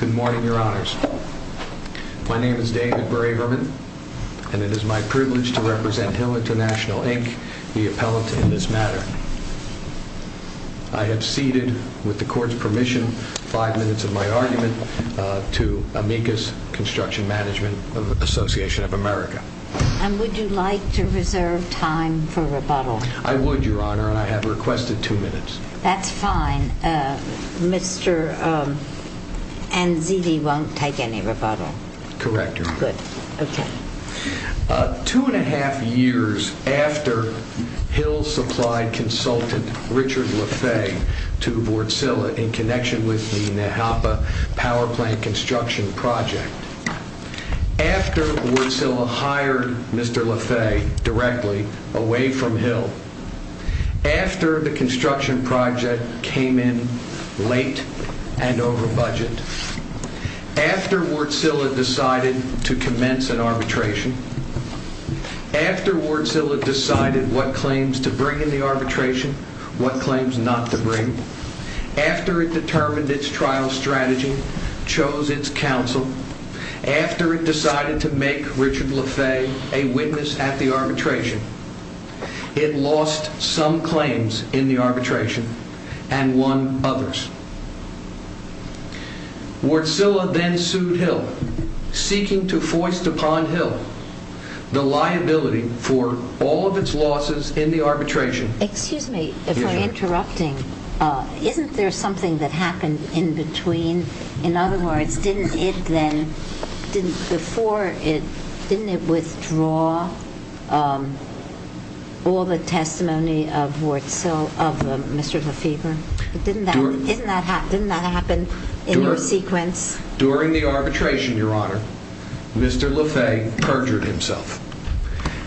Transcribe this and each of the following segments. Good morning, Your Honors. My name is David Braverman, and it is my privilege to represent Hill Int'l, Inc., the appellant in this matter. I have seated, with the Court's permission, five minutes of my argument to Amicus Construction Management Association of America. And would you like to reserve time for rebuttal? I would, Your Honor, and I have requested two minutes. That's fine. Mr. Anzidi won't take any rebuttal? Correct, Your Honor. Good. Okay. Two and a half years after Hill supplied consultant Richard LaFay to Wartsila in connection with the Nahapa Power Plant construction project, after Wartsila hired Mr. LaFay directly away from Hill, after the construction project came in late and over budget, after Wartsila decided to commence an arbitration, after Wartsila decided what claims to bring in the arbitration, what claims not to bring, after it determined its trial strategy, chose its counsel, after it decided to make Richard LaFay a witness at the arbitration, it lost some claims in the arbitration and won others. Wartsila then sued Hill, seeking to foist upon Hill the liability for all of its losses in the arbitration. Excuse me for interrupting. Isn't there something that happened in between? In other words, didn't it then, before it, didn't it withdraw all the testimony of Mr. LaFay? Didn't that happen in your sequence? During the arbitration, Your Honor, Mr. LaFay perjured himself.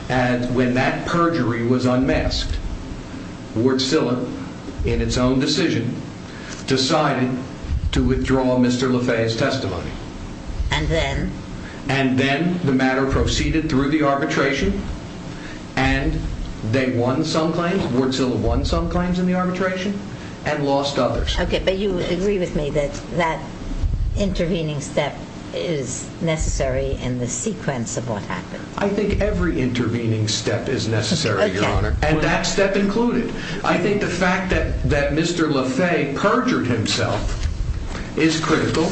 And when that perjury was unmasked, Wartsila, in its own decision, decided to withdraw Mr. LaFay's testimony. And then? And then the matter proceeded through the arbitration, and they won some claims, Wartsila won some claims in the arbitration, and lost others. Okay, but you agree with me that that intervening step is necessary in the sequence of what happened? I think every intervening step is necessary, Your Honor, and that step included. I think the fact that Mr. LaFay perjured himself is critical,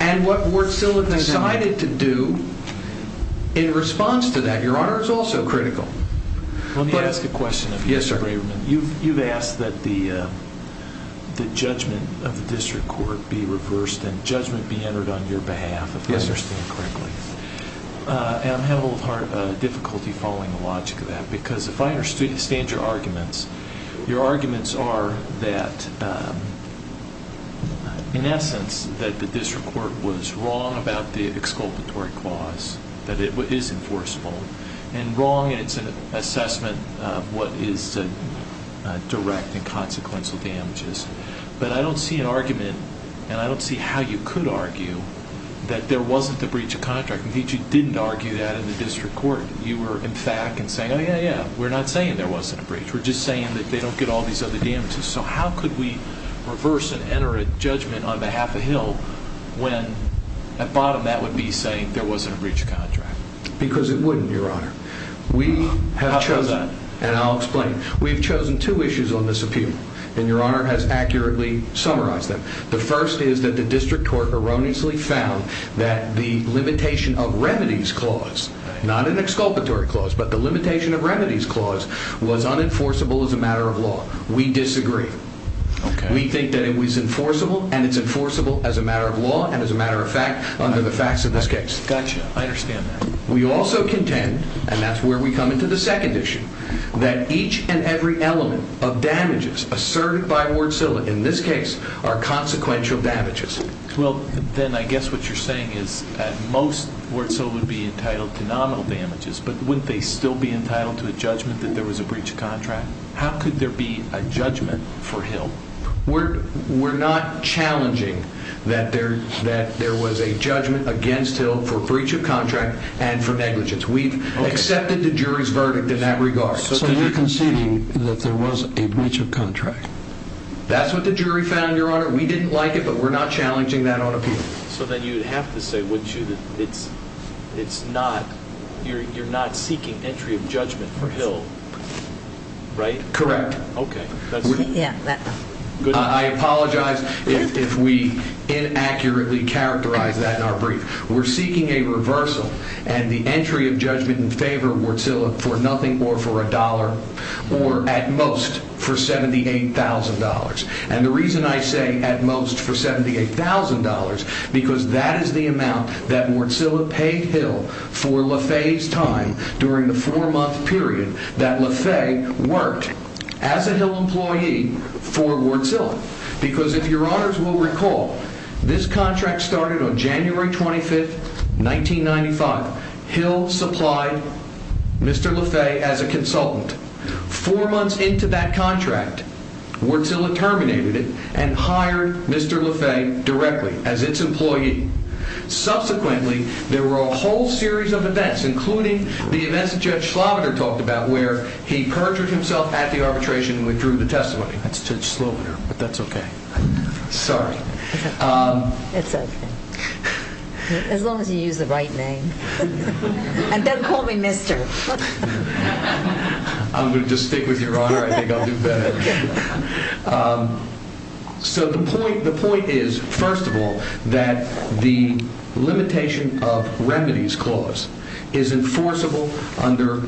and what Wartsila decided to do in response to that, Your Honor, is also critical. Let me ask a question of you, Mr. Braverman. Yes, sir. You've asked that the judgment of the district court be reversed and judgment be entered on your behalf, if I understand correctly. And I'm having a little difficulty following the logic of that, because if I understand your arguments, your arguments are that, in essence, that the district court was wrong about the exculpatory clause, that it is enforceable, and wrong in its assessment of what is direct and consequential damages. But I don't see an argument, and I don't see how you could argue that there wasn't a breach of contract. I think you didn't argue that in the district court. You were, in fact, in saying, oh, yeah, yeah, we're not saying there wasn't a breach. We're just saying that they don't get all these other damages. So how could we reverse and enter a judgment on behalf of Hill when, at bottom, that would be saying there wasn't a breach of contract? Because it wouldn't, Your Honor. How come that? And I'll explain. We've chosen two issues on this appeal, and Your Honor has accurately summarized them. The first is that the district court erroneously found that the limitation of remedies clause, not an exculpatory clause, but the limitation of remedies clause, was unenforceable as a matter of law. We disagree. We think that it was enforceable, and it's enforceable as a matter of law and as a matter of fact under the facts of this case. Gotcha. I understand that. We also contend, and that's where we come into the second issue, that each and every element of damages asserted by Ward-Silva, in this case, are consequential damages. Well, then I guess what you're saying is that most Ward-Silva would be entitled to nominal damages, but wouldn't they still be entitled to a judgment that there was a breach of contract? How could there be a judgment for Hill? We're not challenging that there was a judgment against Hill for breach of contract and for negligence. We've accepted the jury's verdict in that regard. So you're conceding that there was a breach of contract? That's what the jury found, Your Honor. We didn't like it, but we're not challenging that on appeal. So then you'd have to say, wouldn't you, that you're not seeking entry of judgment for Hill, right? Correct. Okay. I apologize if we inaccurately characterize that in our brief. We're seeking a reversal and the entry of judgment in favor of Ward-Silva for nothing more for a dollar, or at most for $78,000. And the reason I say at most for $78,000, because that is the amount that Ward-Silva paid Hill for LaFay's time during the four-month period that LaFay worked. As a Hill employee for Ward-Silva, because if Your Honors will recall, this contract started on January 25th, 1995. Hill supplied Mr. LaFay as a consultant. Four months into that contract, Ward-Silva terminated it and hired Mr. LaFay directly as its employee. Subsequently, there were a whole series of events, including the events that Judge Schloverter talked about, where he perjured himself at the arbitration and withdrew the testimony. That's Judge Schloverter, but that's okay. Sorry. It's okay. As long as you use the right name. And don't call me Mr. I'm going to just stick with Your Honor. I think I'll do better. So the point is, first of all, that the limitation of remedies clause is enforceable under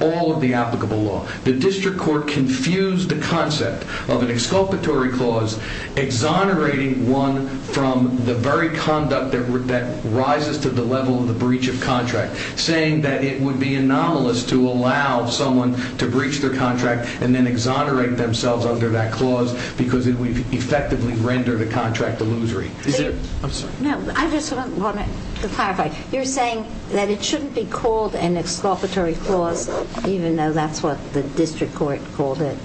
all of the applicable law. The district court confused the concept of an exculpatory clause, exonerating one from the very conduct that rises to the level of the breach of contract, saying that it would be anomalous to allow someone to breach their contract and then exonerate themselves under that clause because it would effectively render the contract illusory. I'm sorry. No, I just want to clarify. You're saying that it shouldn't be called an exculpatory clause, even though that's what the district court called it?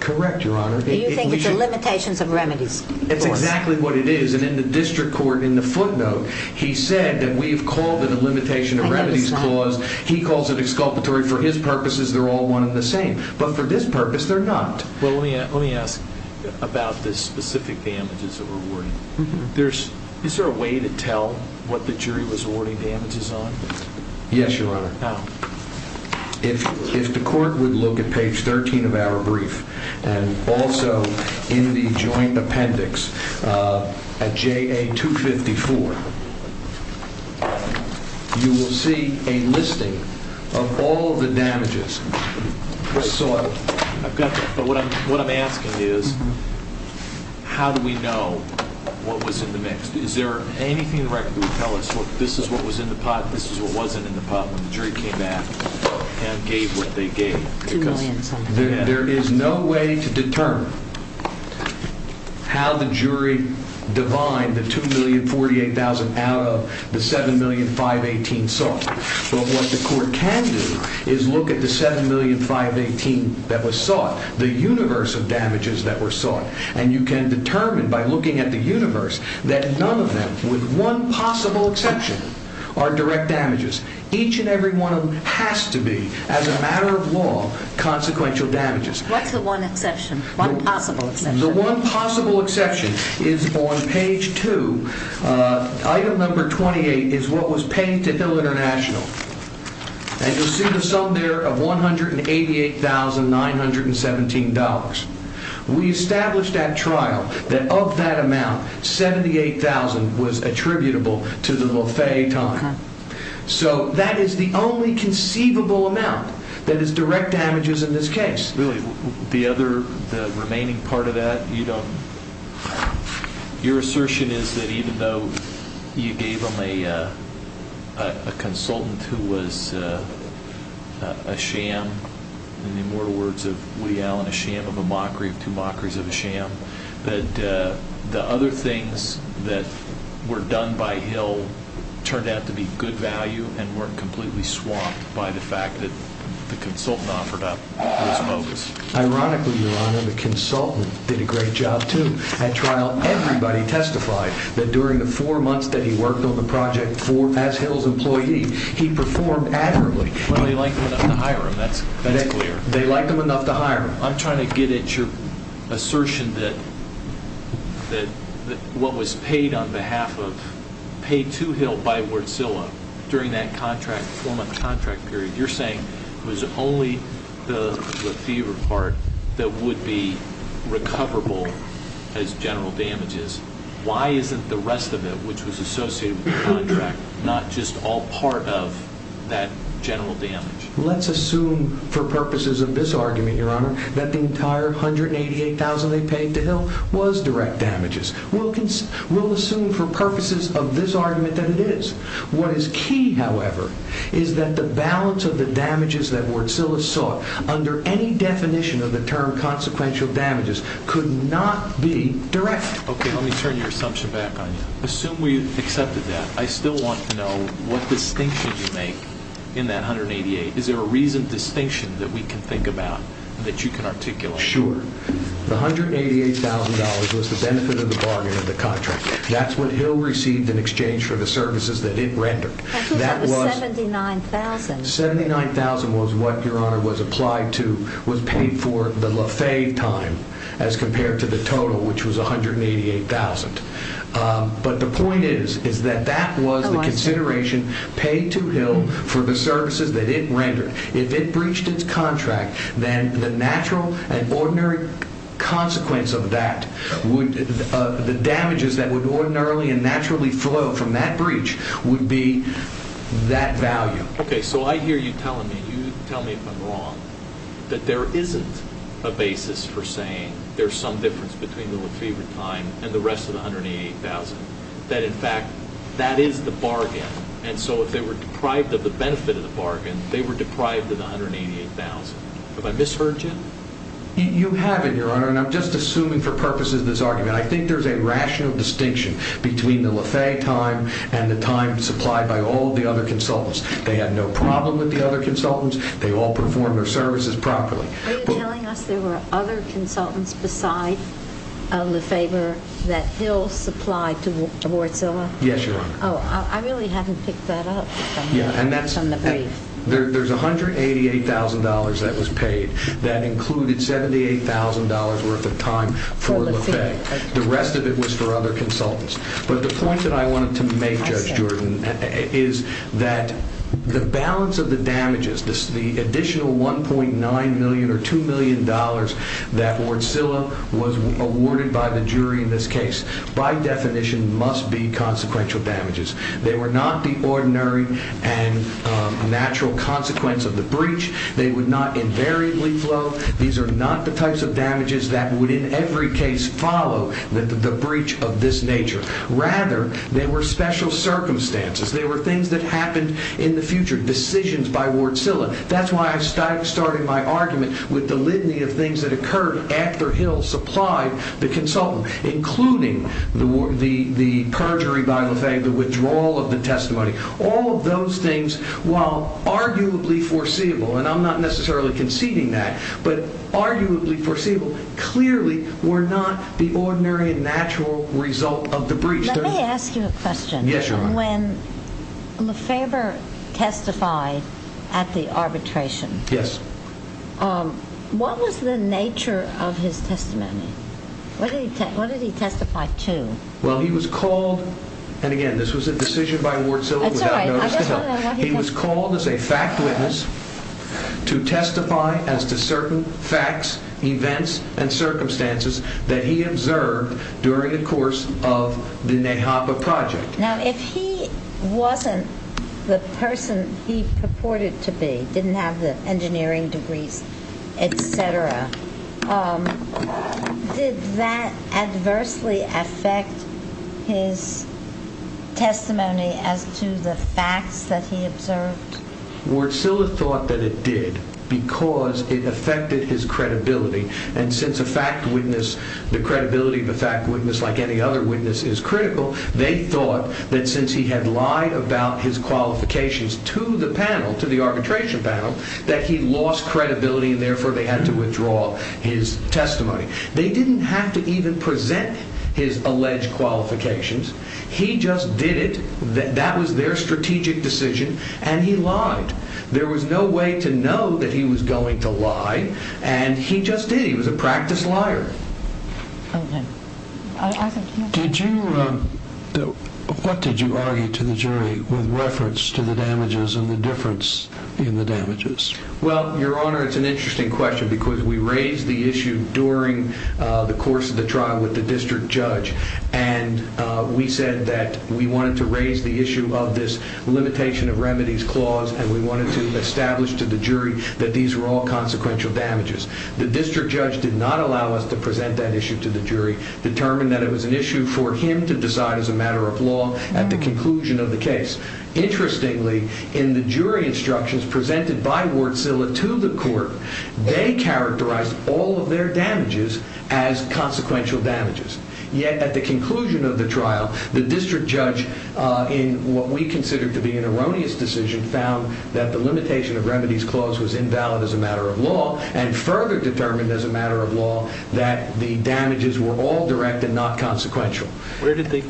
Correct, Your Honor. You think it's the limitations of remedies? That's exactly what it is. And in the district court, in the footnote, he said that we have called it a limitation of remedies clause. He calls it exculpatory for his purposes. They're all one and the same. But for this purpose, they're not. Well, let me ask about the specific damages that we're awarding. Is there a way to tell what the jury was awarding damages on? Yes, Your Honor. How? If the court would look at page 13 of our brief and also in the joint appendix at JA254, you will see a listing of all the damages. So I've got that. But what I'm asking is how do we know what was in the mix? Is there anything in the record that would tell us this is what was in the pot, this is what wasn't in the pot when the jury came back? And gave what they gave. There is no way to determine how the jury divined the $2,048,000 out of the $7,518,000 sought. But what the court can do is look at the $7,518,000 that was sought, the universe of damages that were sought, and you can determine by looking at the universe that none of them, with one possible exception, are direct damages. Each and every one of them has to be, as a matter of law, consequential damages. What's the one exception, one possible exception? The one possible exception is on page 2. Item number 28 is what was paid to Hill International. And you'll see the sum there of $188,917. We established at trial that of that amount, $78,000 was attributable to the Lafay time. So that is the only conceivable amount that is direct damages in this case. Really, the other, the remaining part of that, you don't... Your assertion is that even though you gave them a consultant who was a sham, in the immortal words of Woody Allen, a sham of a mockery, two mockeries of a sham, that the other things that were done by Hill turned out to be good value and weren't completely swamped by the fact that the consultant offered up was bogus? Ironically, Your Honor, the consultant did a great job, too. At trial, everybody testified that during the four months that he worked on the project as Hill's employee, he performed admirably. Well, they liked him enough to hire him. That's clear. They liked him enough to hire him. I'm trying to get at your assertion that what was paid on behalf of, paid to Hill by Wardzilla during that four-month contract period, you're saying it was only the fever part that would be recoverable as general damages. Why isn't the rest of it, which was associated with the contract, not just all part of that general damage? Let's assume for purposes of this argument, Your Honor, that the entire $188,000 they paid to Hill was direct damages. We'll assume for purposes of this argument that it is. What is key, however, is that the balance of the damages that Wardzilla sought under any definition of the term consequential damages could not be direct. Okay, let me turn your assumption back on you. Assume we accepted that. I still want to know what distinction you make in that $188,000. Is there a reasoned distinction that we can think about that you can articulate? Sure. The $188,000 was the benefit of the bargain of the contract. That's what Hill received in exchange for the services that it rendered. That was $79,000. $79,000 was what, Your Honor, was paid for the lafayette time as compared to the total, which was $188,000. But the point is that that was the consideration paid to Hill for the services that it rendered. If it breached its contract, then the natural and ordinary consequence of that, the damages that would ordinarily and naturally flow from that breach would be that value. Okay, so I hear you telling me, and you tell me if I'm wrong, that there isn't a basis for saying there's some difference between the lafayette time and the rest of the $188,000, that in fact that is the bargain. And so if they were deprived of the benefit of the bargain, they were deprived of the $188,000. Have I misheard you? You haven't, Your Honor, and I'm just assuming for purposes of this argument. I think there's a rational distinction between the lafayette time and the time supplied by all of the other consultants. They had no problem with the other consultants. They all performed their services properly. Are you telling us there were other consultants beside LaFaber that Hill supplied to Wardzilla? Yes, Your Honor. Oh, I really haven't picked that up from the brief. There's $188,000 that was paid that included $78,000 worth of time for LaFay. The rest of it was for other consultants. But the point that I wanted to make, Judge Jordan, is that the balance of the damages, the additional $1.9 million or $2 million that Wardzilla was awarded by the jury in this case, by definition must be consequential damages. They were not the ordinary and natural consequence of the breach. They would not invariably flow. These are not the types of damages that would in every case follow the breach of this nature. Rather, they were special circumstances. They were things that happened in the future, decisions by Wardzilla. That's why I started my argument with the litany of things that occurred after Hill supplied the consultant, including the perjury by LaFay, the withdrawal of the testimony. All of those things, while arguably foreseeable, and I'm not necessarily conceding that, but arguably foreseeable, clearly were not the ordinary and natural result of the breach. Yes, Your Honor. When LaFay testified at the arbitration, what was the nature of his testimony? What did he testify to? Well, he was called, and again, this was a decision by Wardzilla without notice to Hill. He was called as a fact witness to testify as to certain facts, events, and circumstances that he observed during the course of the Nahapa Project. Now, if he wasn't the person he purported to be, didn't have the engineering degrees, et cetera, did that adversely affect his testimony as to the facts that he observed? Wardzilla thought that it did because it affected his credibility, and since a fact witness, the credibility of a fact witness like any other witness is critical, they thought that since he had lied about his qualifications to the panel, to the arbitration panel, that he lost credibility, and therefore they had to withdraw his testimony. They didn't have to even present his alleged qualifications. He just did it. That was their strategic decision, and he lied. There was no way to know that he was going to lie, and he just did. He was a practiced liar. What did you argue to the jury with reference to the damages and the difference in the damages? Well, Your Honor, it's an interesting question because we raised the issue during the course of the trial with the district judge, and we said that we wanted to raise the issue of this limitation of remedies clause, and we wanted to establish to the jury that these were all consequential damages. The district judge did not allow us to present that issue to the jury, determined that it was an issue for him to decide as a matter of law at the conclusion of the case. Interestingly, in the jury instructions presented by Wardzilla to the court, they characterized all of their damages as consequential damages. Yet at the conclusion of the trial, the district judge, in what we considered to be an erroneous decision, found that the limitation of remedies clause was invalid as a matter of law, and further determined as a matter of law that the damages were all direct and not consequential. Where did they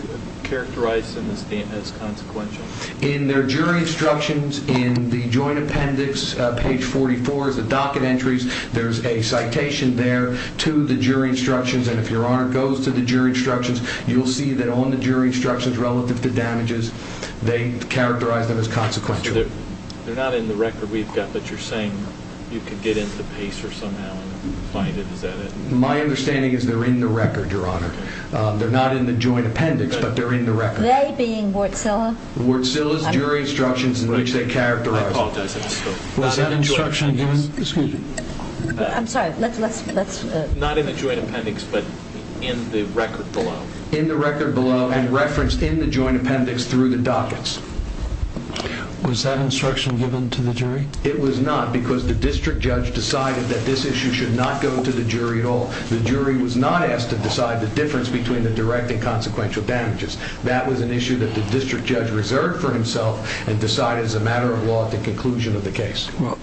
characterize them as consequential? In their jury instructions, in the joint appendix, page 44 is the docket entries. There's a citation there to the jury instructions, and if Your Honor goes to the jury instructions, you'll see that on the jury instructions relative to damages, they characterize them as consequential. They're not in the record we've got, but you're saying you could get into PACER somehow and find it, is that it? My understanding is they're in the record, Your Honor. They're not in the joint appendix, but they're in the record. They being Wardzilla? Wardzilla's jury instructions in which they characterize them. I apologize. Was that instruction given? I'm sorry. Not in the joint appendix, but in the record below. In the record below and referenced in the joint appendix through the dockets. Was that instruction given to the jury? It was not because the district judge decided that this issue should not go to the jury at all. The jury was not asked to decide the difference between the direct and consequential damages. That was an issue that the district judge reserved for himself and decided as a matter of law at the conclusion of the case. Well,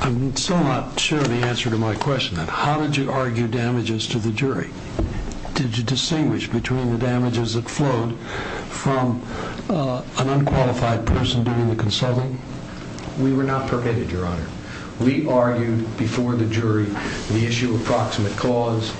I'm still not sure of the answer to my question. How did you argue damages to the jury? Did you distinguish between the damages that flowed from an unqualified person doing the consulting? We were not permitted, Your Honor. We argued before the jury the issue of proximate cause.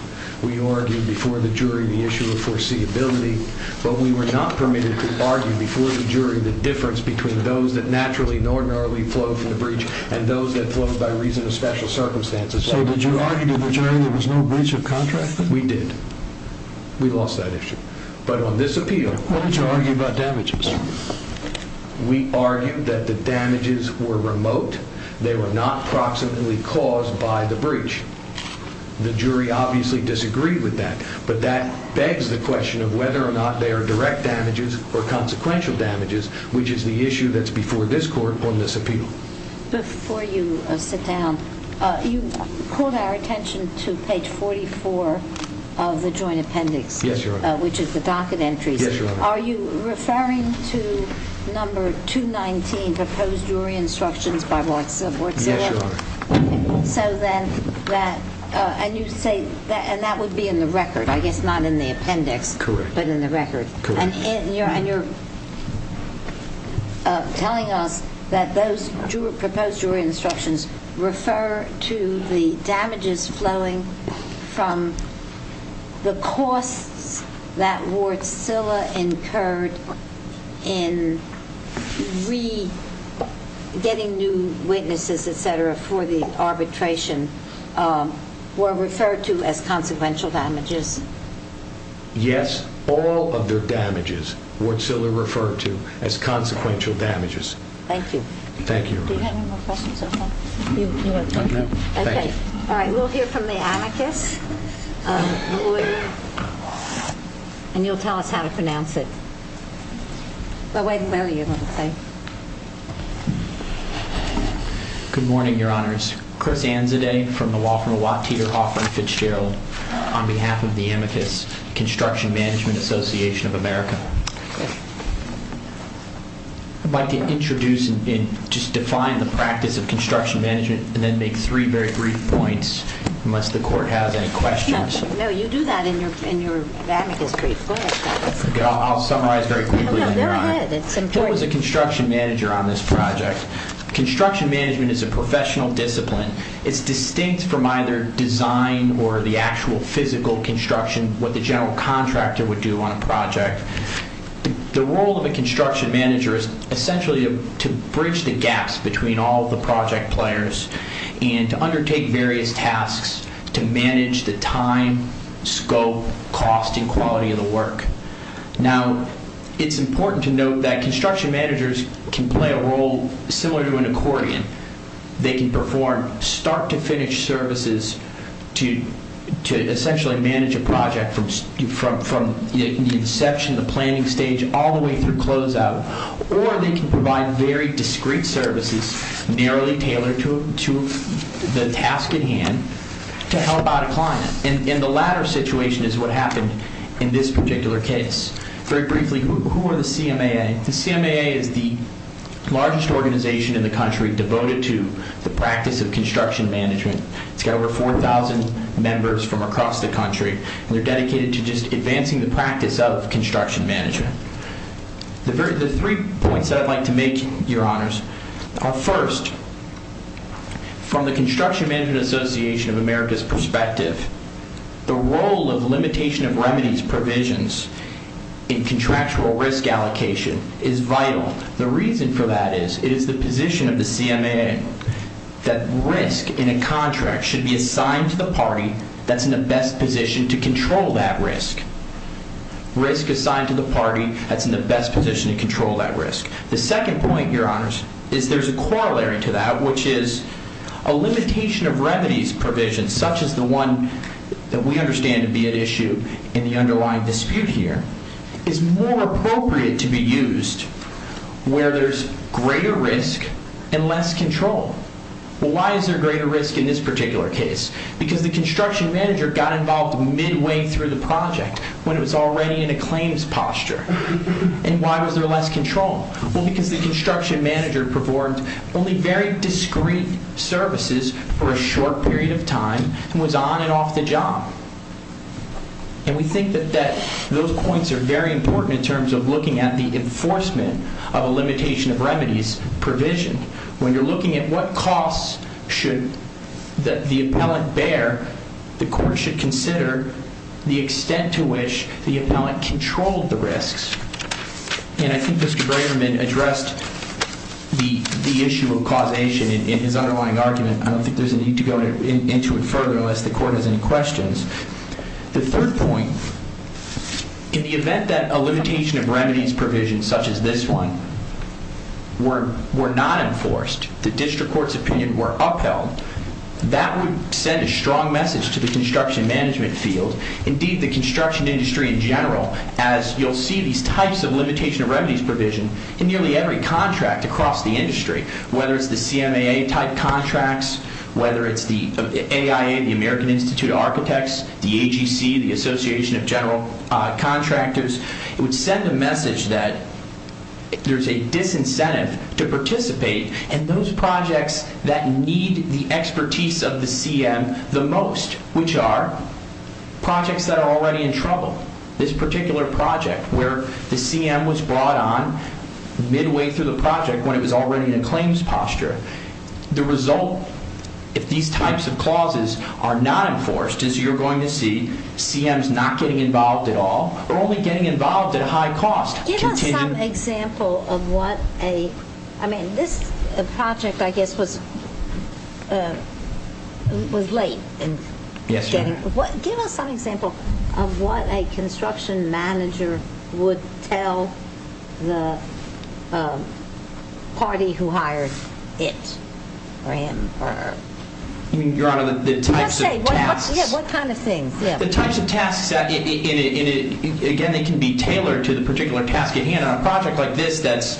We argued before the jury the issue of foreseeability. But we were not permitted to argue before the jury the difference between those that naturally and ordinarily flow from the breach and those that flow by reason of special circumstances. So did you argue to the jury there was no breach of contract? We did. We lost that issue. But on this appeal... Why did you argue about damages? We argued that the damages were remote. They were not proximately caused by the breach. The jury obviously disagreed with that. But that begs the question of whether or not they are direct damages or consequential damages, which is the issue that's before this court on this appeal. Before you sit down, you called our attention to page 44 of the joint appendix... Yes, Your Honor. ...which is the docket entries. Yes, Your Honor. Are you referring to number 219, Proposed Jury Instructions by Watson? Yes, Your Honor. So then that... And you say... And that would be in the record, I guess, not in the appendix... Correct. ...but in the record. Correct. And you're telling us that those Proposed Jury Instructions refer to the damages flowing from the costs that Wartsila incurred in getting new witnesses, et cetera, for the arbitration, were referred to as consequential damages. Yes, all of their damages Wartsila referred to as consequential damages. Thank you. Thank you, Your Honor. Do you have any more questions? Okay. Okay. Thank you. All right. We'll hear from the anarchist, lawyer, and you'll tell us how to pronounce it. Well, Wade and Mary, you're going to say. Good morning, Your Honors. My name is Chris Anzadeh from the Wofford & Watt Teeter Hoffman Fitzgerald, on behalf of the Amicus Construction Management Association of America. I'd like to introduce and just define the practice of construction management and then make three very brief points, unless the Court has any questions. No, you do that in your Amicus brief. Go ahead. I'll summarize very quickly. No, go ahead. It's important. I was a construction manager on this project. Construction management is a professional discipline. It's distinct from either design or the actual physical construction, what the general contractor would do on a project. The role of a construction manager is essentially to bridge the gaps between all the project players and to undertake various tasks to manage the time, scope, cost, and quality of the work. Now, it's important to note that construction managers can play a role similar to an accordion. They can perform start-to-finish services to essentially manage a project from the inception, the planning stage, all the way through closeout. Or they can provide very discrete services, narrowly tailored to the task at hand, to help out a client. And the latter situation is what happened in this particular case. Very briefly, who are the CMAA? The CMAA is the largest organization in the country devoted to the practice of construction management. It's got over 4,000 members from across the country, and they're dedicated to just advancing the practice of construction management. The three points that I'd like to make, Your Honors, are first, from the Construction Management Association of America's perspective, the role of limitation of remedies provisions in contractual risk allocation is vital. The reason for that is it is the position of the CMAA that risk in a contract should be assigned to the party that's in the best position to control that risk. Risk assigned to the party that's in the best position to control that risk. The second point, Your Honors, is there's a corollary to that, which is a limitation of remedies provisions, such as the one that we understand to be at issue in the underlying dispute here, is more appropriate to be used where there's greater risk and less control. Why is there greater risk in this particular case? Because the construction manager got involved midway through the project when it was already in a claims posture. And why was there less control? Well, because the construction manager performed only very discreet services for a short period of time and was on and off the job. And we think that those points are very important in terms of looking at the enforcement of a limitation of remedies provision. When you're looking at what costs should the appellant bear, the court should consider the extent to which the appellant controlled the risks. And I think Mr. Braverman addressed the issue of causation in his underlying argument. I don't think there's a need to go into it further unless the court has any questions. The third point, in the event that a limitation of remedies provision, such as this one, were not enforced, the district court's opinion were upheld, that would send a strong message to the construction management field, indeed the construction industry in general, as you'll see these types of limitation of remedies provision in nearly every contract across the industry, whether it's the CMAA type contracts, whether it's the AIA, the American Institute of Architects, the AGC, the Association of General Contractors. It would send a message that there's a disincentive to participate in those projects that need the expertise of the CM the most, which are projects that are already in trouble. This particular project where the CM was brought on midway through the project when it was already in a claims posture. The result, if these types of clauses are not enforced, is you're going to see CMs not getting involved at all or only getting involved at a high cost. Give us some example of what a construction manager would tell the party who hired it. Your Honor, the types of tasks... Yes, what kind of things? The types of tasks, again, they can be tailored to the particular task at hand. On a project like this that's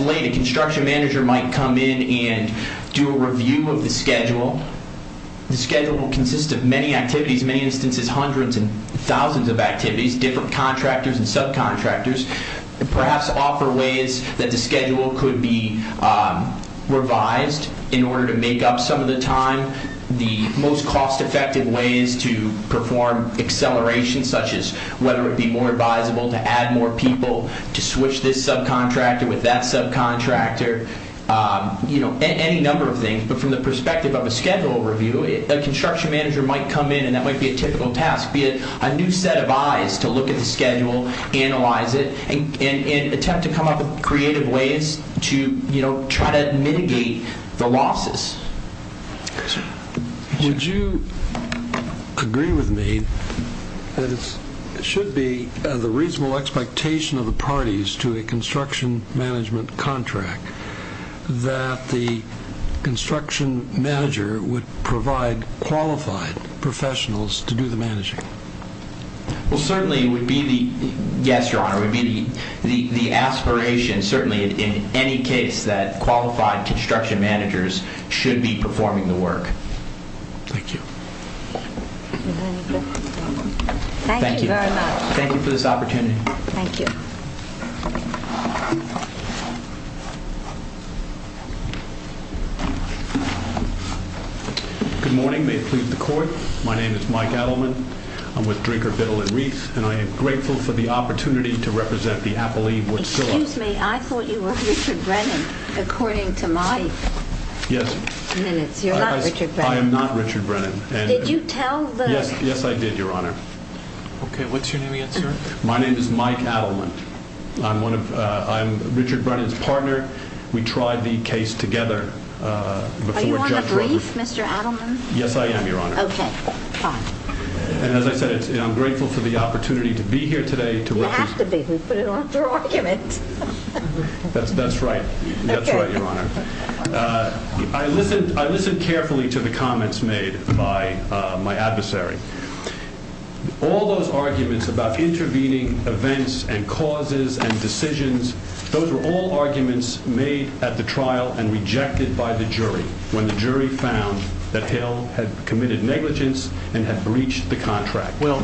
late, a construction manager might come in and do a review of the schedule. The schedule will consist of many activities, many instances, hundreds and thousands of activities, different contractors and subcontractors, perhaps offer ways that the schedule could be revised in order to make up some of the time. The most cost-effective way is to perform acceleration, such as whether it be more advisable to add more people, to switch this subcontractor with that subcontractor, any number of things. But from the perspective of a schedule review, a construction manager might come in, and that might be a typical task, be it a new set of eyes to look at the schedule, analyze it, and attempt to come up with creative ways to try to mitigate the losses. Would you agree with me that it should be the reasonable expectation of the parties to a construction management contract that the construction manager would provide qualified professionals to do the managing? Well, certainly it would be the aspiration, certainly in any case, that qualified construction managers should be performing the work. Thank you. Thank you very much. Thank you for this opportunity. Good morning. May it please the Court. My name is Mike Adleman. I'm with Drinker, Biddle, and Reif, and I am grateful for the opportunity to represent the appellee, Wood Sill. Excuse me. I thought you were Richard Brennan, according to my minutes. You're not Richard Brennan. I am not Richard Brennan. Did you tell the— Yes, I did, Your Honor. Okay. What's your name again, sir? My name is Mike Adleman. I'm Richard Brennan's partner. We tried the case together before Judge Roper— Are you on the brief, Mr. Adleman? Yes, I am, Your Honor. Okay. Fine. And as I said, I'm grateful for the opportunity to be here today to represent— You have to be. We put it on for argument. That's right. That's right, Your Honor. I listened carefully to the comments made by my adversary. All those arguments about intervening events and causes and decisions, those were all arguments made at the trial and rejected by the jury when the jury found that Hale had committed negligence and had breached the contract. Well,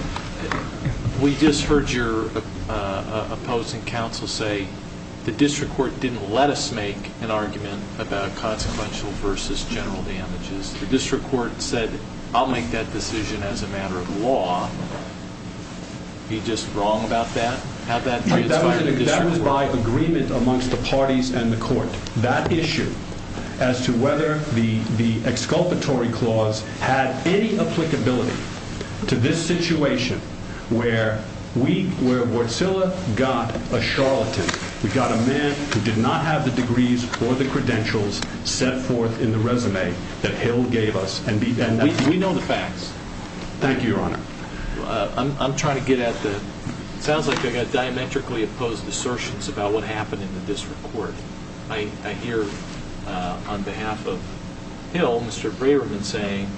we just heard your opposing counsel say the district court didn't let us make an argument about consequential versus general damages. The district court said, I'll make that decision as a matter of law. Are you just wrong about that? That was my agreement amongst the parties and the court. That issue as to whether the exculpatory clause had any applicability to this situation where Wartsilla got a charlatan, we got a man who did not have the degrees or the credentials set forth in the resume that Hale gave us. And we know the facts. Thank you, Your Honor. I'm trying to get at the— I hear on behalf of Hale, Mr. Braverman saying,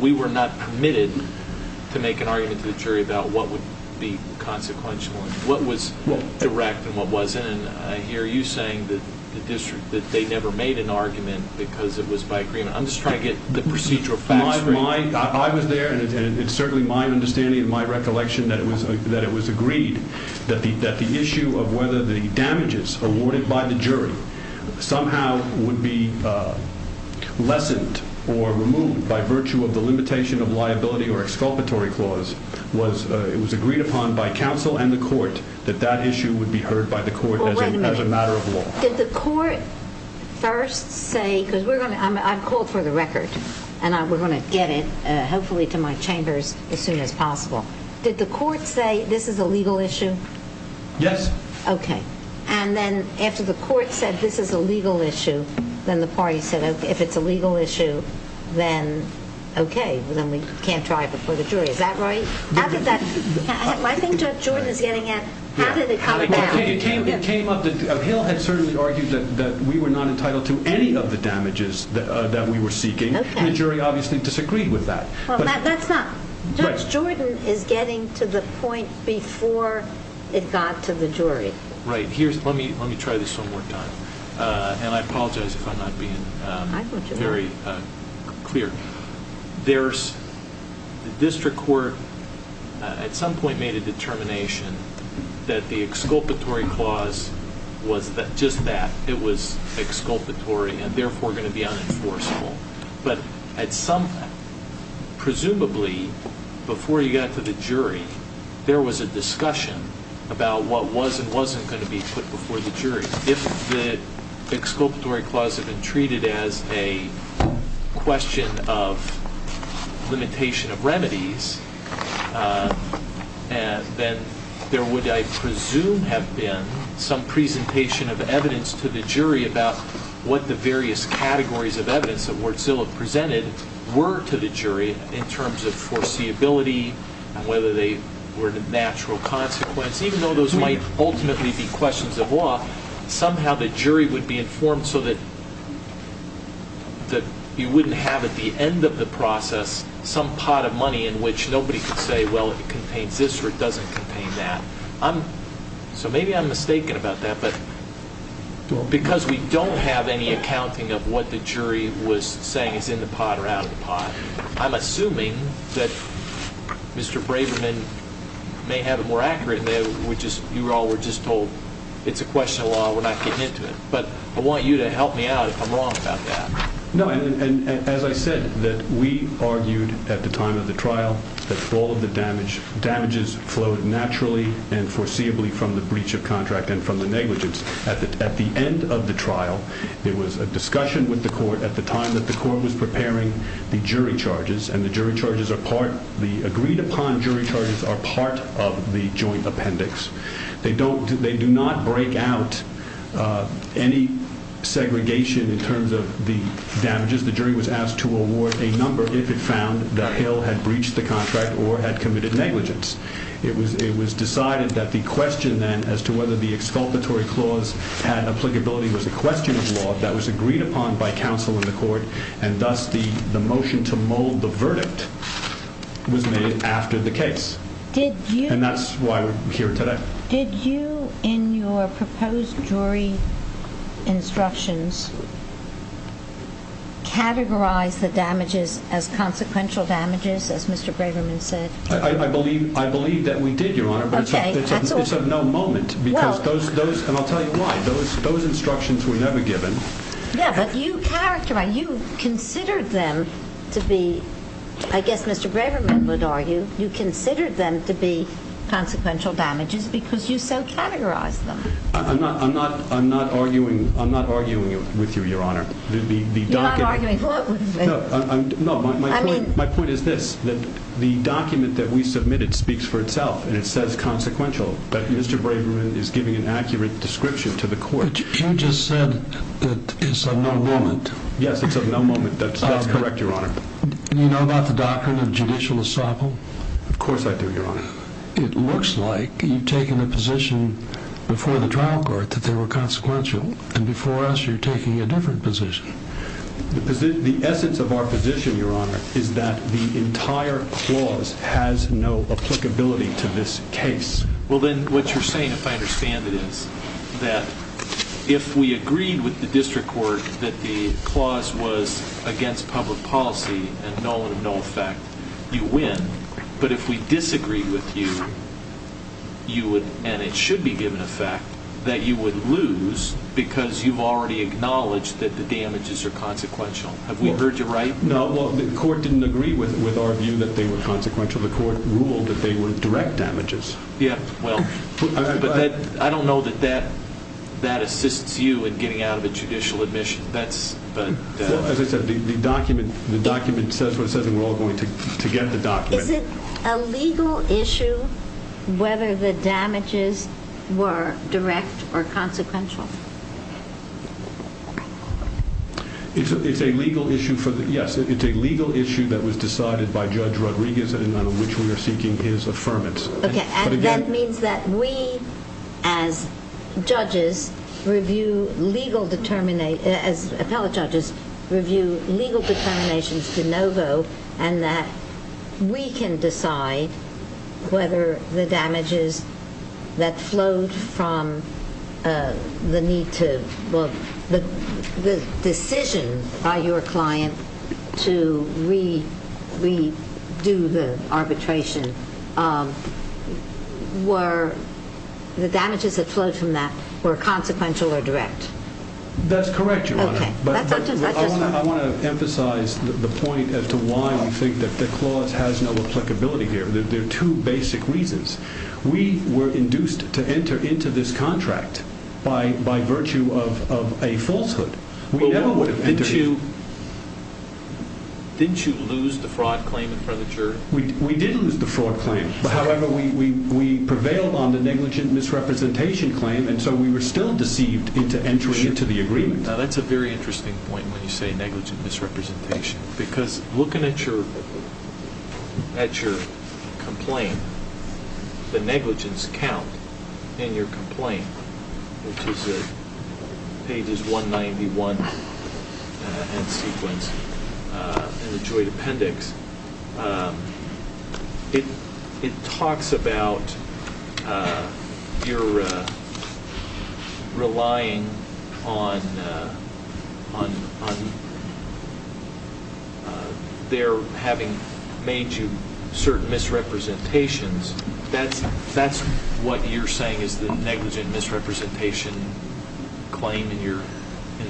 we were not permitted to make an argument to the jury about what would be consequential and what was direct and what wasn't. And I hear you saying that they never made an argument because it was by agreement. I'm just trying to get the procedural facts. I was there, and it's certainly my understanding and my recollection that it was agreed that the issue of whether the damages awarded by the jury somehow would be lessened or removed by virtue of the limitation of liability or exculpatory clause, it was agreed upon by counsel and the court that that issue would be heard by the court as a matter of law. Did the court first say—because I've called for the record, and we're going to get it hopefully to my chambers as soon as possible. Did the court say this is a legal issue? Yes. Okay. And then after the court said this is a legal issue, then the party said, okay, if it's a legal issue, then okay, then we can't try it before the jury. Is that right? After that—I think Judge Jordan is getting at how did it come about. It came up—Hale had certainly argued that we were not entitled to any of the damages that we were seeking. Okay. And the jury obviously disagreed with that. Judge Jordan is getting to the point before it got to the jury. Right. Let me try this one more time, and I apologize if I'm not being very clear. The district court at some point made a determination that the exculpatory clause was just that. It was exculpatory and therefore going to be unenforceable. But at some—presumably before you got to the jury, there was a discussion about what was and wasn't going to be put before the jury. If the exculpatory clause had been treated as a question of limitation of remedies, then there would, I presume, have been some presentation of evidence to the jury about what the various categories of evidence that Wardzilla presented were to the jury in terms of foreseeability and whether they were a natural consequence. Even though those might ultimately be questions of law, somehow the jury would be informed so that you wouldn't have at the end of the process some pot of money in which nobody could say, well, it contains this or it doesn't contain that. So maybe I'm mistaken about that, but because we don't have any accounting of what the jury was saying is in the pot or out of the pot, I'm assuming that Mr. Braverman may have it more accurate and you all were just told it's a question of law, we're not getting into it. But I want you to help me out if I'm wrong about that. No, and as I said, we argued at the time of the trial that all of the damages flowed naturally and foreseeably from the breach of contract and from the negligence. At the end of the trial, there was a discussion with the court at the time that the court was preparing the jury charges, and the agreed upon jury charges are part of the joint appendix. They do not break out any segregation in terms of the damages. The jury was asked to award a number if it found that Hill had breached the contract or had committed negligence. It was decided that the question then as to whether the exculpatory clause had applicability was a question of law that was agreed upon by counsel in the court, and thus the motion to mold the verdict was made after the case. And that's why we're here today. Did you, in your proposed jury instructions, categorize the damages as consequential damages, as Mr. Braverman said? I believe that we did, Your Honor, but it's of no moment. And I'll tell you why. Those instructions were never given. Yeah, but you characterized, you considered them to be, I guess Mr. Braverman would argue, you considered them to be consequential damages because you so categorized them. I'm not arguing with you, Your Honor. You're not arguing? No, my point is this. The document that we submitted speaks for itself, and it says consequential, but Mr. Braverman is giving an accurate description to the court. But you just said that it's of no moment. Yes, it's of no moment. That's correct, Your Honor. Do you know about the Doctrine of Judicial Ensemble? Of course I do, Your Honor. It looks like you've taken a position before the trial court that they were consequential, and before us you're taking a different position. The essence of our position, Your Honor, is that the entire clause has no applicability to this case. Well, then, what you're saying, if I understand it, is that if we agreed with the district court that the clause was against public policy and no effect, you win. But if we disagreed with you, you would, and it should be given effect, that you would lose because you've already acknowledged that the damages are consequential. Have we heard you right? No, well, the court didn't agree with our view that they were consequential. The court ruled that they were direct damages. Yeah, well, I don't know that that assists you in getting out of a judicial admission. Well, as I said, the document says what it says, and we're all going to get the document. Is it a legal issue whether the damages were direct or consequential? Yes, it's a legal issue that was decided by Judge Rodriguez and on which we are seeking his affirmance. Okay, and that means that we, as judges, review legal determinations, as appellate judges review legal determinations de novo, and that we can decide whether the damages that flowed from the decision by your client to redo the arbitration, were the damages that flowed from that were consequential or direct? That's correct, Your Honor. Okay, that's just fine. I want to emphasize the point as to why we think that the clause has no applicability here. There are two basic reasons. We were induced to enter into this contract by virtue of a falsehood. Didn't you lose the fraud claim in front of the jury? We did lose the fraud claim. However, we prevailed on the negligent misrepresentation claim, and so we were still deceived into entering into the agreement. Now, that's a very interesting point when you say negligent misrepresentation, because looking at your complaint, the negligence count in your complaint, which is pages 191 and sequence in the joint appendix, it talks about your relying on their having made you certain misrepresentations. That's what you're saying is the negligent misrepresentation claim in your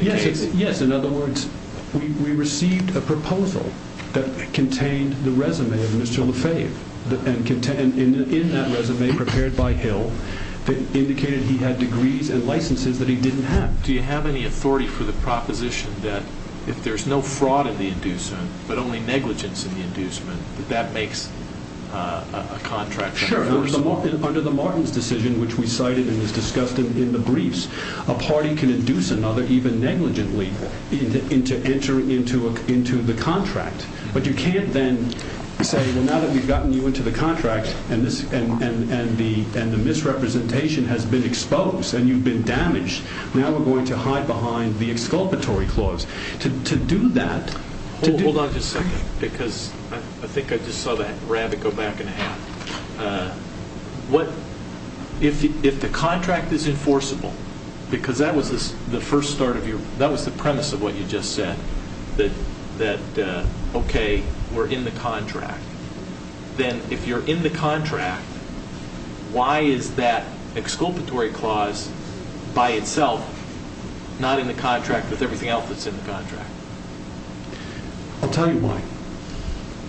case? Yes. In other words, we received a proposal that contained the resume of Mr. Lefebvre, and in that resume, prepared by Hill, it indicated he had degrees and licenses that he didn't have. Do you have any authority for the proposition that if there's no fraud in the inducement that that makes a contract? Sure. Under the Martins decision, which we cited and was discussed in the briefs, a party can induce another, even negligently, to enter into the contract. But you can't then say, well, now that we've gotten you into the contract and the misrepresentation has been exposed and you've been damaged, now we're going to hide behind the exculpatory clause. Hold on just a second, because I think I just saw that rabbit go back in half. If the contract is enforceable, because that was the premise of what you just said, that, okay, we're in the contract, then if you're in the contract, why is that exculpatory clause by itself not in the contract with everything else that's in the contract? I'll tell you why.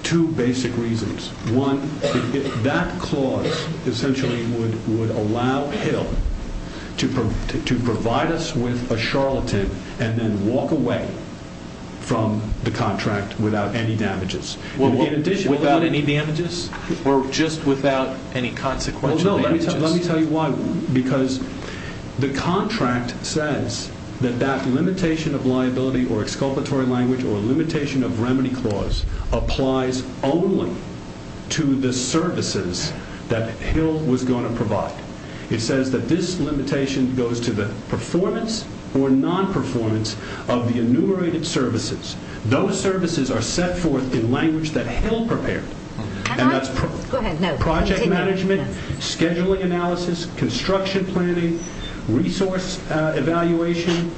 Two basic reasons. One, that clause essentially would allow Hill to provide us with a charlatan and then walk away from the contract without any damages. Or just without any consequential damages? Well, no, let me tell you why. Because the contract says that that limitation of liability or exculpatory language or limitation of remedy clause applies only to the services that Hill was going to provide. It says that this limitation goes to the performance or non-performance of the enumerated services. Those services are set forth in language that Hill prepared. And that's project management, scheduling analysis, construction planning, resource evaluation,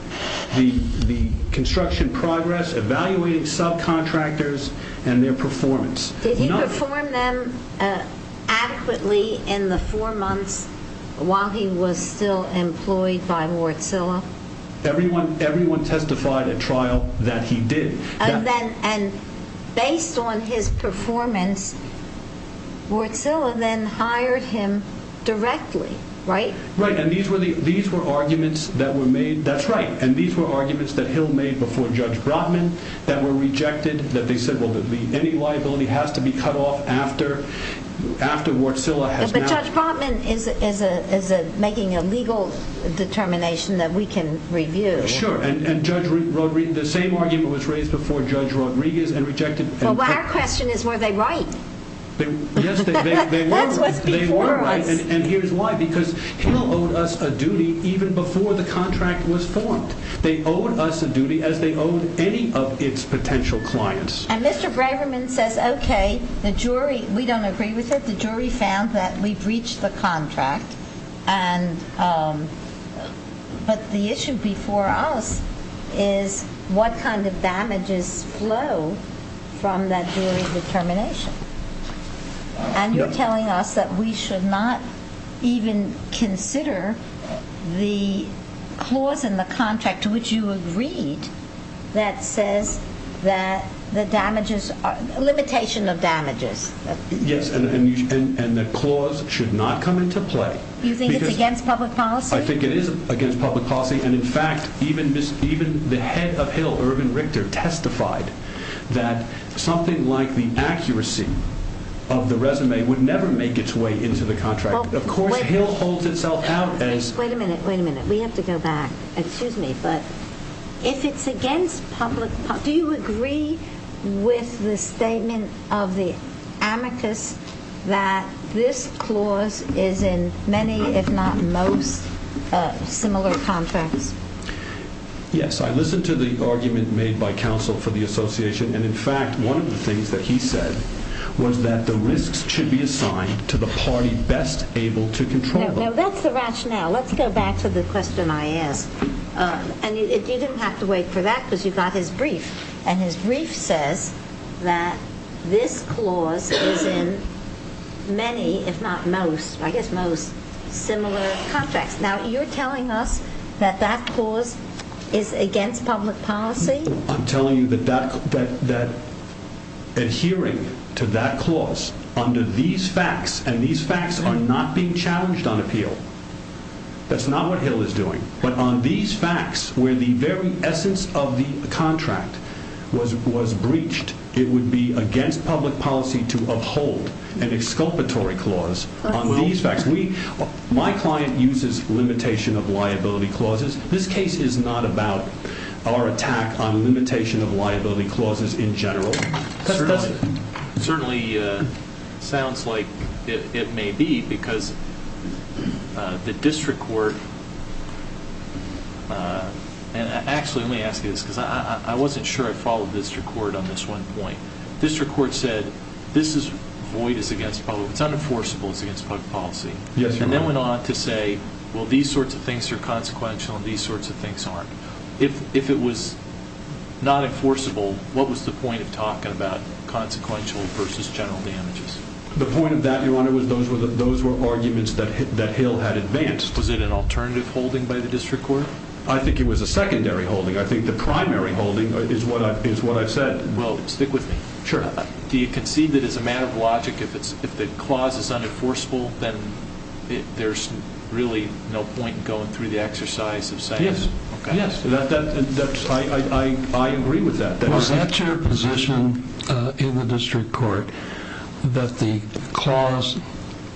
the construction progress, evaluating subcontractors and their performance. Did he perform them adequately in the four months while he was still employed by Wärtsilä? Everyone testified at trial that he did. And based on his performance, Wärtsilä then hired him directly, right? Right, and these were arguments that were made. That's right, and these were arguments that Hill made before Judge Brotman that were rejected, that they said, well, any liability has to be cut off after Wärtsilä has now... But Judge Brotman is making a legal determination that we can review. Sure, and Judge Rodriguez, the same argument was raised before Judge Rodriguez and rejected... Well, our question is, were they right? Yes, they were right, and here's why. Because Hill owed us a duty even before the contract was formed. They owed us a duty as they owed any of its potential clients. And Mr. Braverman says, okay, the jury, we don't agree with it. The jury found that we breached the contract. But the issue before us is what kind of damages flow from that jury determination. And you're telling us that we should not even consider the clause in the contract to which you agreed that says that the damages are a limitation of damages. Yes, and the clause should not come into play. You think it's against public policy? I think it is against public policy, and in fact, even the head of Hill, Urban Richter, testified that something like the accuracy of the resume would never make its way into the contract. Of course, Hill holds itself out as... Wait a minute, wait a minute. We have to go back. Excuse me, but if it's against public policy, do you agree with the statement of the amicus that this clause is in many, if not most, similar contracts? Yes, I listened to the argument made by counsel for the association, and in fact, one of the things that he said was that the risks should be assigned to the party best able to control them. Now, that's the rationale. Let's go back to the question I asked. And you didn't have to wait for that because you got his brief, and his brief says that this clause is in many, if not most, I guess most, similar contracts. Now, you're telling us that that clause is against public policy? I'm telling you that adhering to that clause under these facts, and these facts are not being challenged on appeal. That's not what Hill is doing. But on these facts, where the very essence of the contract was breached, it would be against public policy to uphold an exculpatory clause on these facts. My client uses limitation of liability clauses. This case is not about our attack on limitation of liability clauses in general. It certainly sounds like it may be because the district court, and actually let me ask you this because I wasn't sure I followed district court on this one point. District court said this is void, it's unenforceable, it's against public policy. And then went on to say, well, these sorts of things are consequential, and these sorts of things aren't. If it was not enforceable, what was the point of talking about consequential versus general damages? The point of that, Your Honor, was those were arguments that Hill had advanced. Was it an alternative holding by the district court? I think it was a secondary holding. I think the primary holding is what I said. Well, stick with me. Sure. Do you concede that as a matter of logic, if the clause is unenforceable, then there's really no point in going through the exercise of saying that? Yes. I agree with that. Was that your position in the district court, that the clause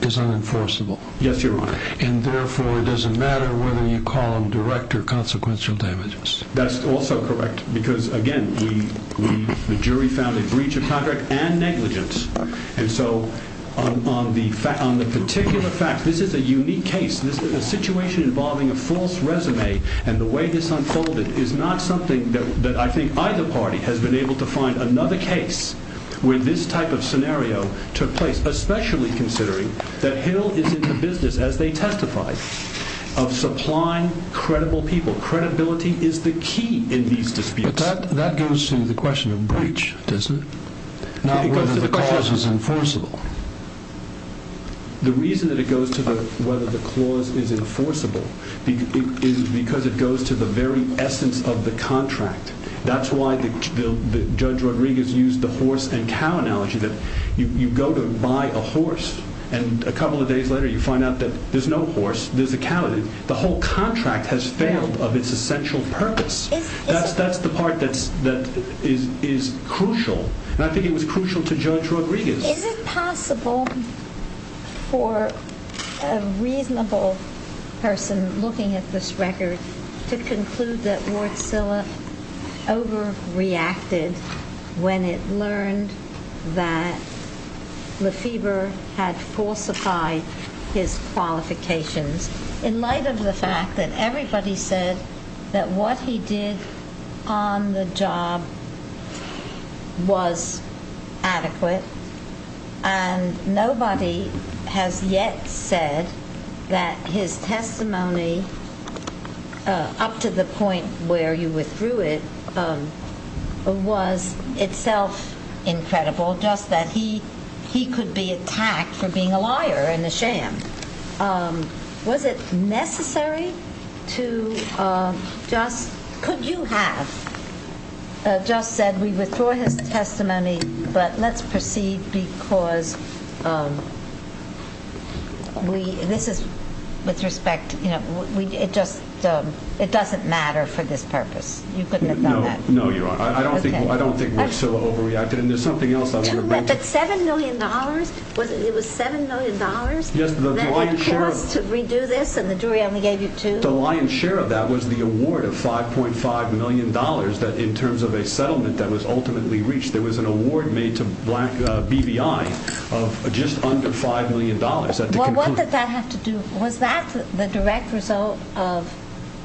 is unenforceable? Yes, Your Honor. And therefore, it doesn't matter whether you call them direct or consequential damages? That's also correct because, again, the jury found a breach of contract and negligence. And so on the particular fact, this is a unique case. This is a situation involving a false resume. And the way this unfolded is not something that I think either party has been able to find another case where this type of scenario took place, especially considering that Hill is in the business, as they testified, of supplying credible people. Credibility is the key in these disputes. But that goes to the question of breach, doesn't it? Not whether the clause is enforceable. The reason that it goes to whether the clause is enforceable is because it goes to the very essence of the contract. That's why Judge Rodriguez used the horse and cow analogy, that you go to buy a horse and a couple of days later you find out that there's no horse, there's a cow. The whole contract has failed of its essential purpose. That's the part that is crucial. And I think it was crucial to Judge Rodriguez. Is it possible for a reasonable person looking at this record to conclude that Ward Silla overreacted when it learned that Lefebvre had falsified his qualifications in light of the fact that everybody said that what he did on the job was adequate and nobody has yet said that his testimony up to the point where you withdrew it was itself incredible, just that he could be attacked for being a liar and a sham. Was it necessary to just, could you have just said we withdrew his testimony, but let's proceed because this is with respect, it doesn't matter for this purpose. You couldn't have done that. No, you're right. I don't think Ward Silla overreacted. But $7 million, it was $7 million that had cost to redo this and the jury only gave you two? The lion's share of that was the award of $5.5 million in terms of a settlement that was ultimately reached. There was an award made to BVI of just under $5 million. What did that have to do, was that the direct result of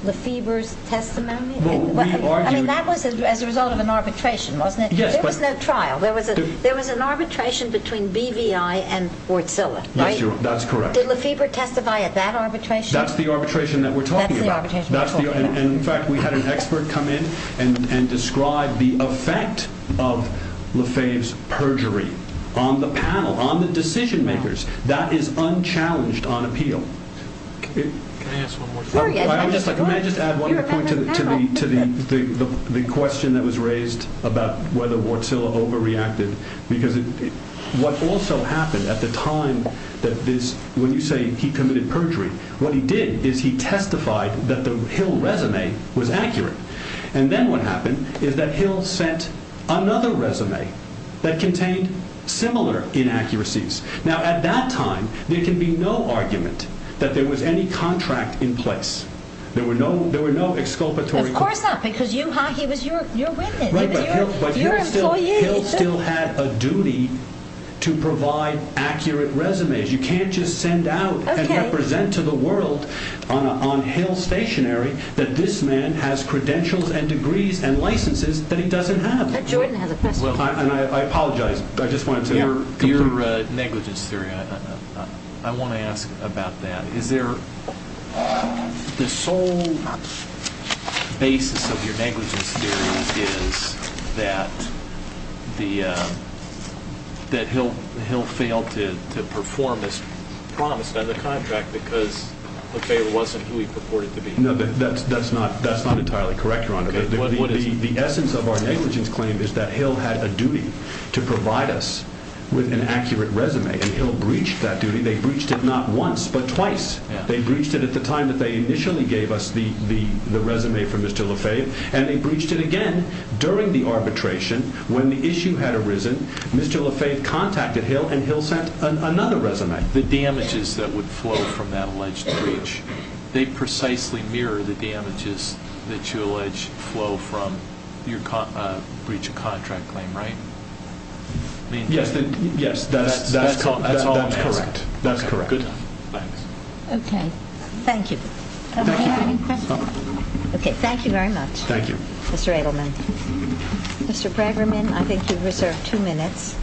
Lefebvre's testimony? I mean that was as a result of an arbitration wasn't it? There was no trial. There was an arbitration between BVI and Ward Silla, right? That's correct. Did Lefebvre testify at that arbitration? That's the arbitration that we're talking about. In fact we had an expert come in and describe the effect of Lefebvre's perjury on the panel, on the decision makers, that is unchallenged on appeal. Can I just add one more point to the question that was raised about whether Ward Silla overreacted? Because what also happened at the time that this, when you say he committed perjury, what he did is he testified that the Hill resume was accurate. And then what happened is that Hill sent another resume that contained similar inaccuracies. Now at that time there can be no argument that there was any contract in place. There were no exculpatory claims. Of course not, because he was your witness. Right, but Hill still had a duty to provide accurate resumes. You can't just send out and represent to the world on Hill stationary that this man has credentials and degrees and licenses that he doesn't have. Jordan has a question. I apologize, I just wanted to... Your negligence theory, I want to ask about that. Is there, the sole basis of your negligence theory is that the, that Hill failed to perform as promised under the contract because Lefebvre wasn't who he purported to be? No, that's not entirely correct, Your Honor. The essence of our negligence claim is that Hill had a duty to provide us with an accurate resume, and Hill breached that duty. They breached it not once, but twice. They breached it at the time that they initially gave us the resume from Mr. Lefebvre, and they breached it again during the arbitration when the issue had arisen. Mr. Lefebvre contacted Hill, and Hill sent another resume. The damages that would flow from that alleged breach, they precisely mirror the damages that you allege flow from your breach of contract claim, right? Yes, that's all I'm asking. That's correct. Good. Thanks. Okay. Thank you. Okay, any questions? No. Okay, thank you very much, Mr. Edelman. Thank you. Mr. Braggerman, I think you've reserved two minutes.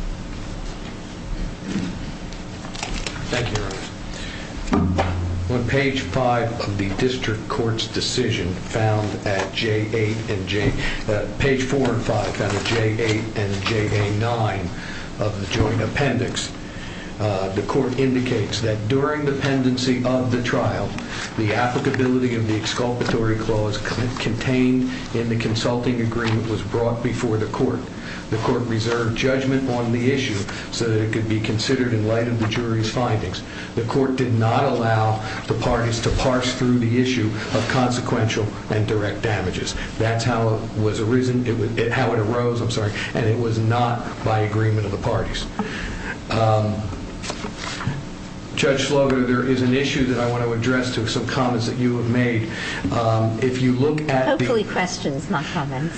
Thank you, Your Honor. On page four and five of the district court's decision found at J8 and J9 of the joint appendix, the court indicates that during the pendency of the trial, the applicability of the exculpatory clause contained in the consulting agreement was brought before the court. The court reserved judgment on the issue so that it could be considered in light of the jury's findings. The court did not allow the parties to parse through the issue of consequential and direct damages. That's how it was arisen, how it arose, I'm sorry, and it was not by agreement of the parties. Judge Slogan, there is an issue that I want to address to some comments that you have made. If you look at the- Hopefully questions, not comments.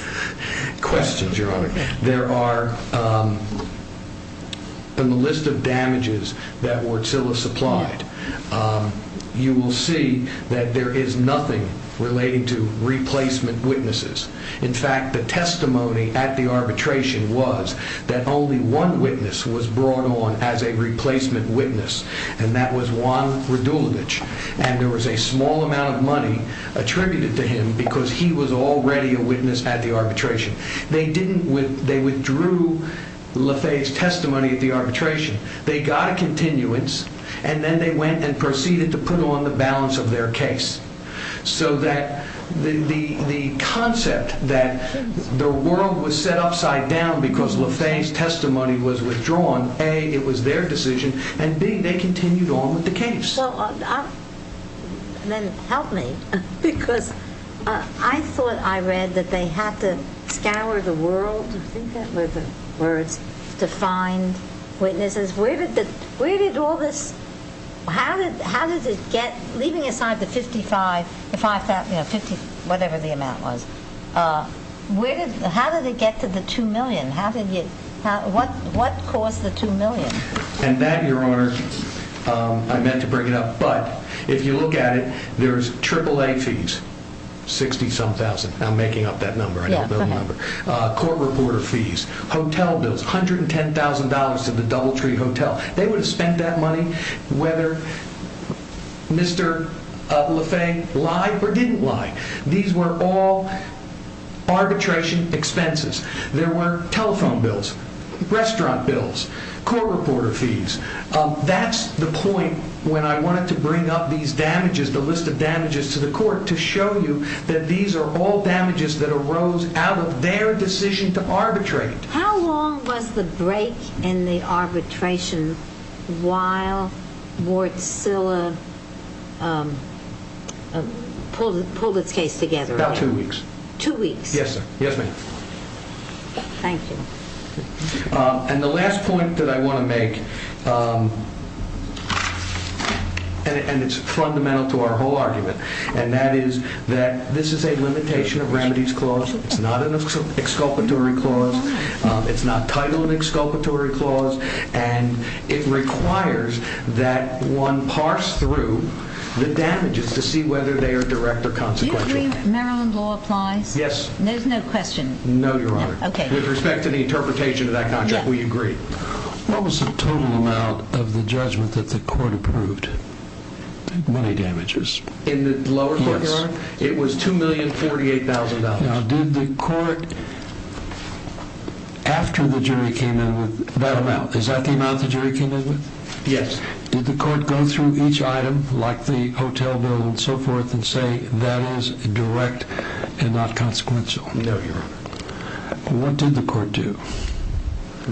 Questions, Your Honor. Okay. If you look at the list of damages that Wartsila supplied, you will see that there is nothing relating to replacement witnesses. In fact, the testimony at the arbitration was that only one witness was brought on as a replacement witness, and that was Juan Radulovic, and there was a small amount of money attributed to him because he was already a witness at the arbitration. They withdrew LaFay's testimony at the arbitration. They got a continuance, and then they went and proceeded to put on the balance of their case so that the concept that the world was set upside down because LaFay's testimony was withdrawn, A, it was their decision, and B, they continued on with the case. Then help me because I thought I read that they had to scour the world, I think that were the words, to find witnesses. Where did all this- How did it get- Leaving aside the 55, whatever the amount was, how did it get to the $2 million? What caused the $2 million? And that, Your Honor, I meant to bring it up, but if you look at it, there's AAA fees, 60-some thousand. I'm making up that number, I know the number. Court reporter fees, hotel bills, $110,000 to the Doubletree Hotel. They would have spent that money whether Mr. LaFay lied or didn't lie. These were all arbitration expenses. There were telephone bills, restaurant bills, court reporter fees. That's the point when I wanted to bring up these damages, the list of damages to the court, to show you that these are all damages that arose out of their decision to arbitrate. How long was the break in the arbitration while Wartsila pulled its case together? About two weeks. Two weeks? Yes, sir. Yes, ma'am. Thank you. And the last point that I want to make, and it's fundamental to our whole argument, and that is that this is a limitation of remedies clause. It's not an exculpatory clause. It's not titled an exculpatory clause. And it requires that one parse through the damages to see whether they are direct or consequential. Do you believe Maryland law applies? Yes. There's no question? No, Your Honor. Okay. With respect to the interpretation of that contract, we agree. What was the total amount of the judgment that the court approved? Money damages. In the lower court, Your Honor? Yes. It was $2,048,000. Now, did the court, after the jury came in with that amount, is that the amount the jury came in with? Yes. Did the court go through each item, like the hotel bill and so forth, and say that is direct and not consequential? No, Your Honor. What did the court do?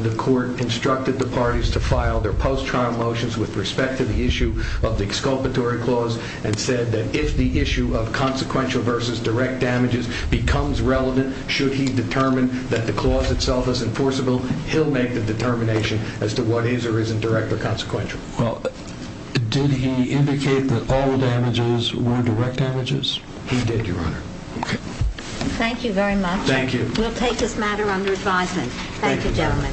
The court instructed the parties to file their post-trial motions with respect to the issue of the exculpatory clause and said that if the issue of consequential versus direct damages becomes relevant, should he determine that the clause itself is enforceable, he'll make the determination as to what is or isn't direct or consequential. Well, did he indicate that all the damages were direct damages? He did, Your Honor. Okay. Thank you very much. Thank you. We'll take this matter under advisement. Thank you, gentlemen.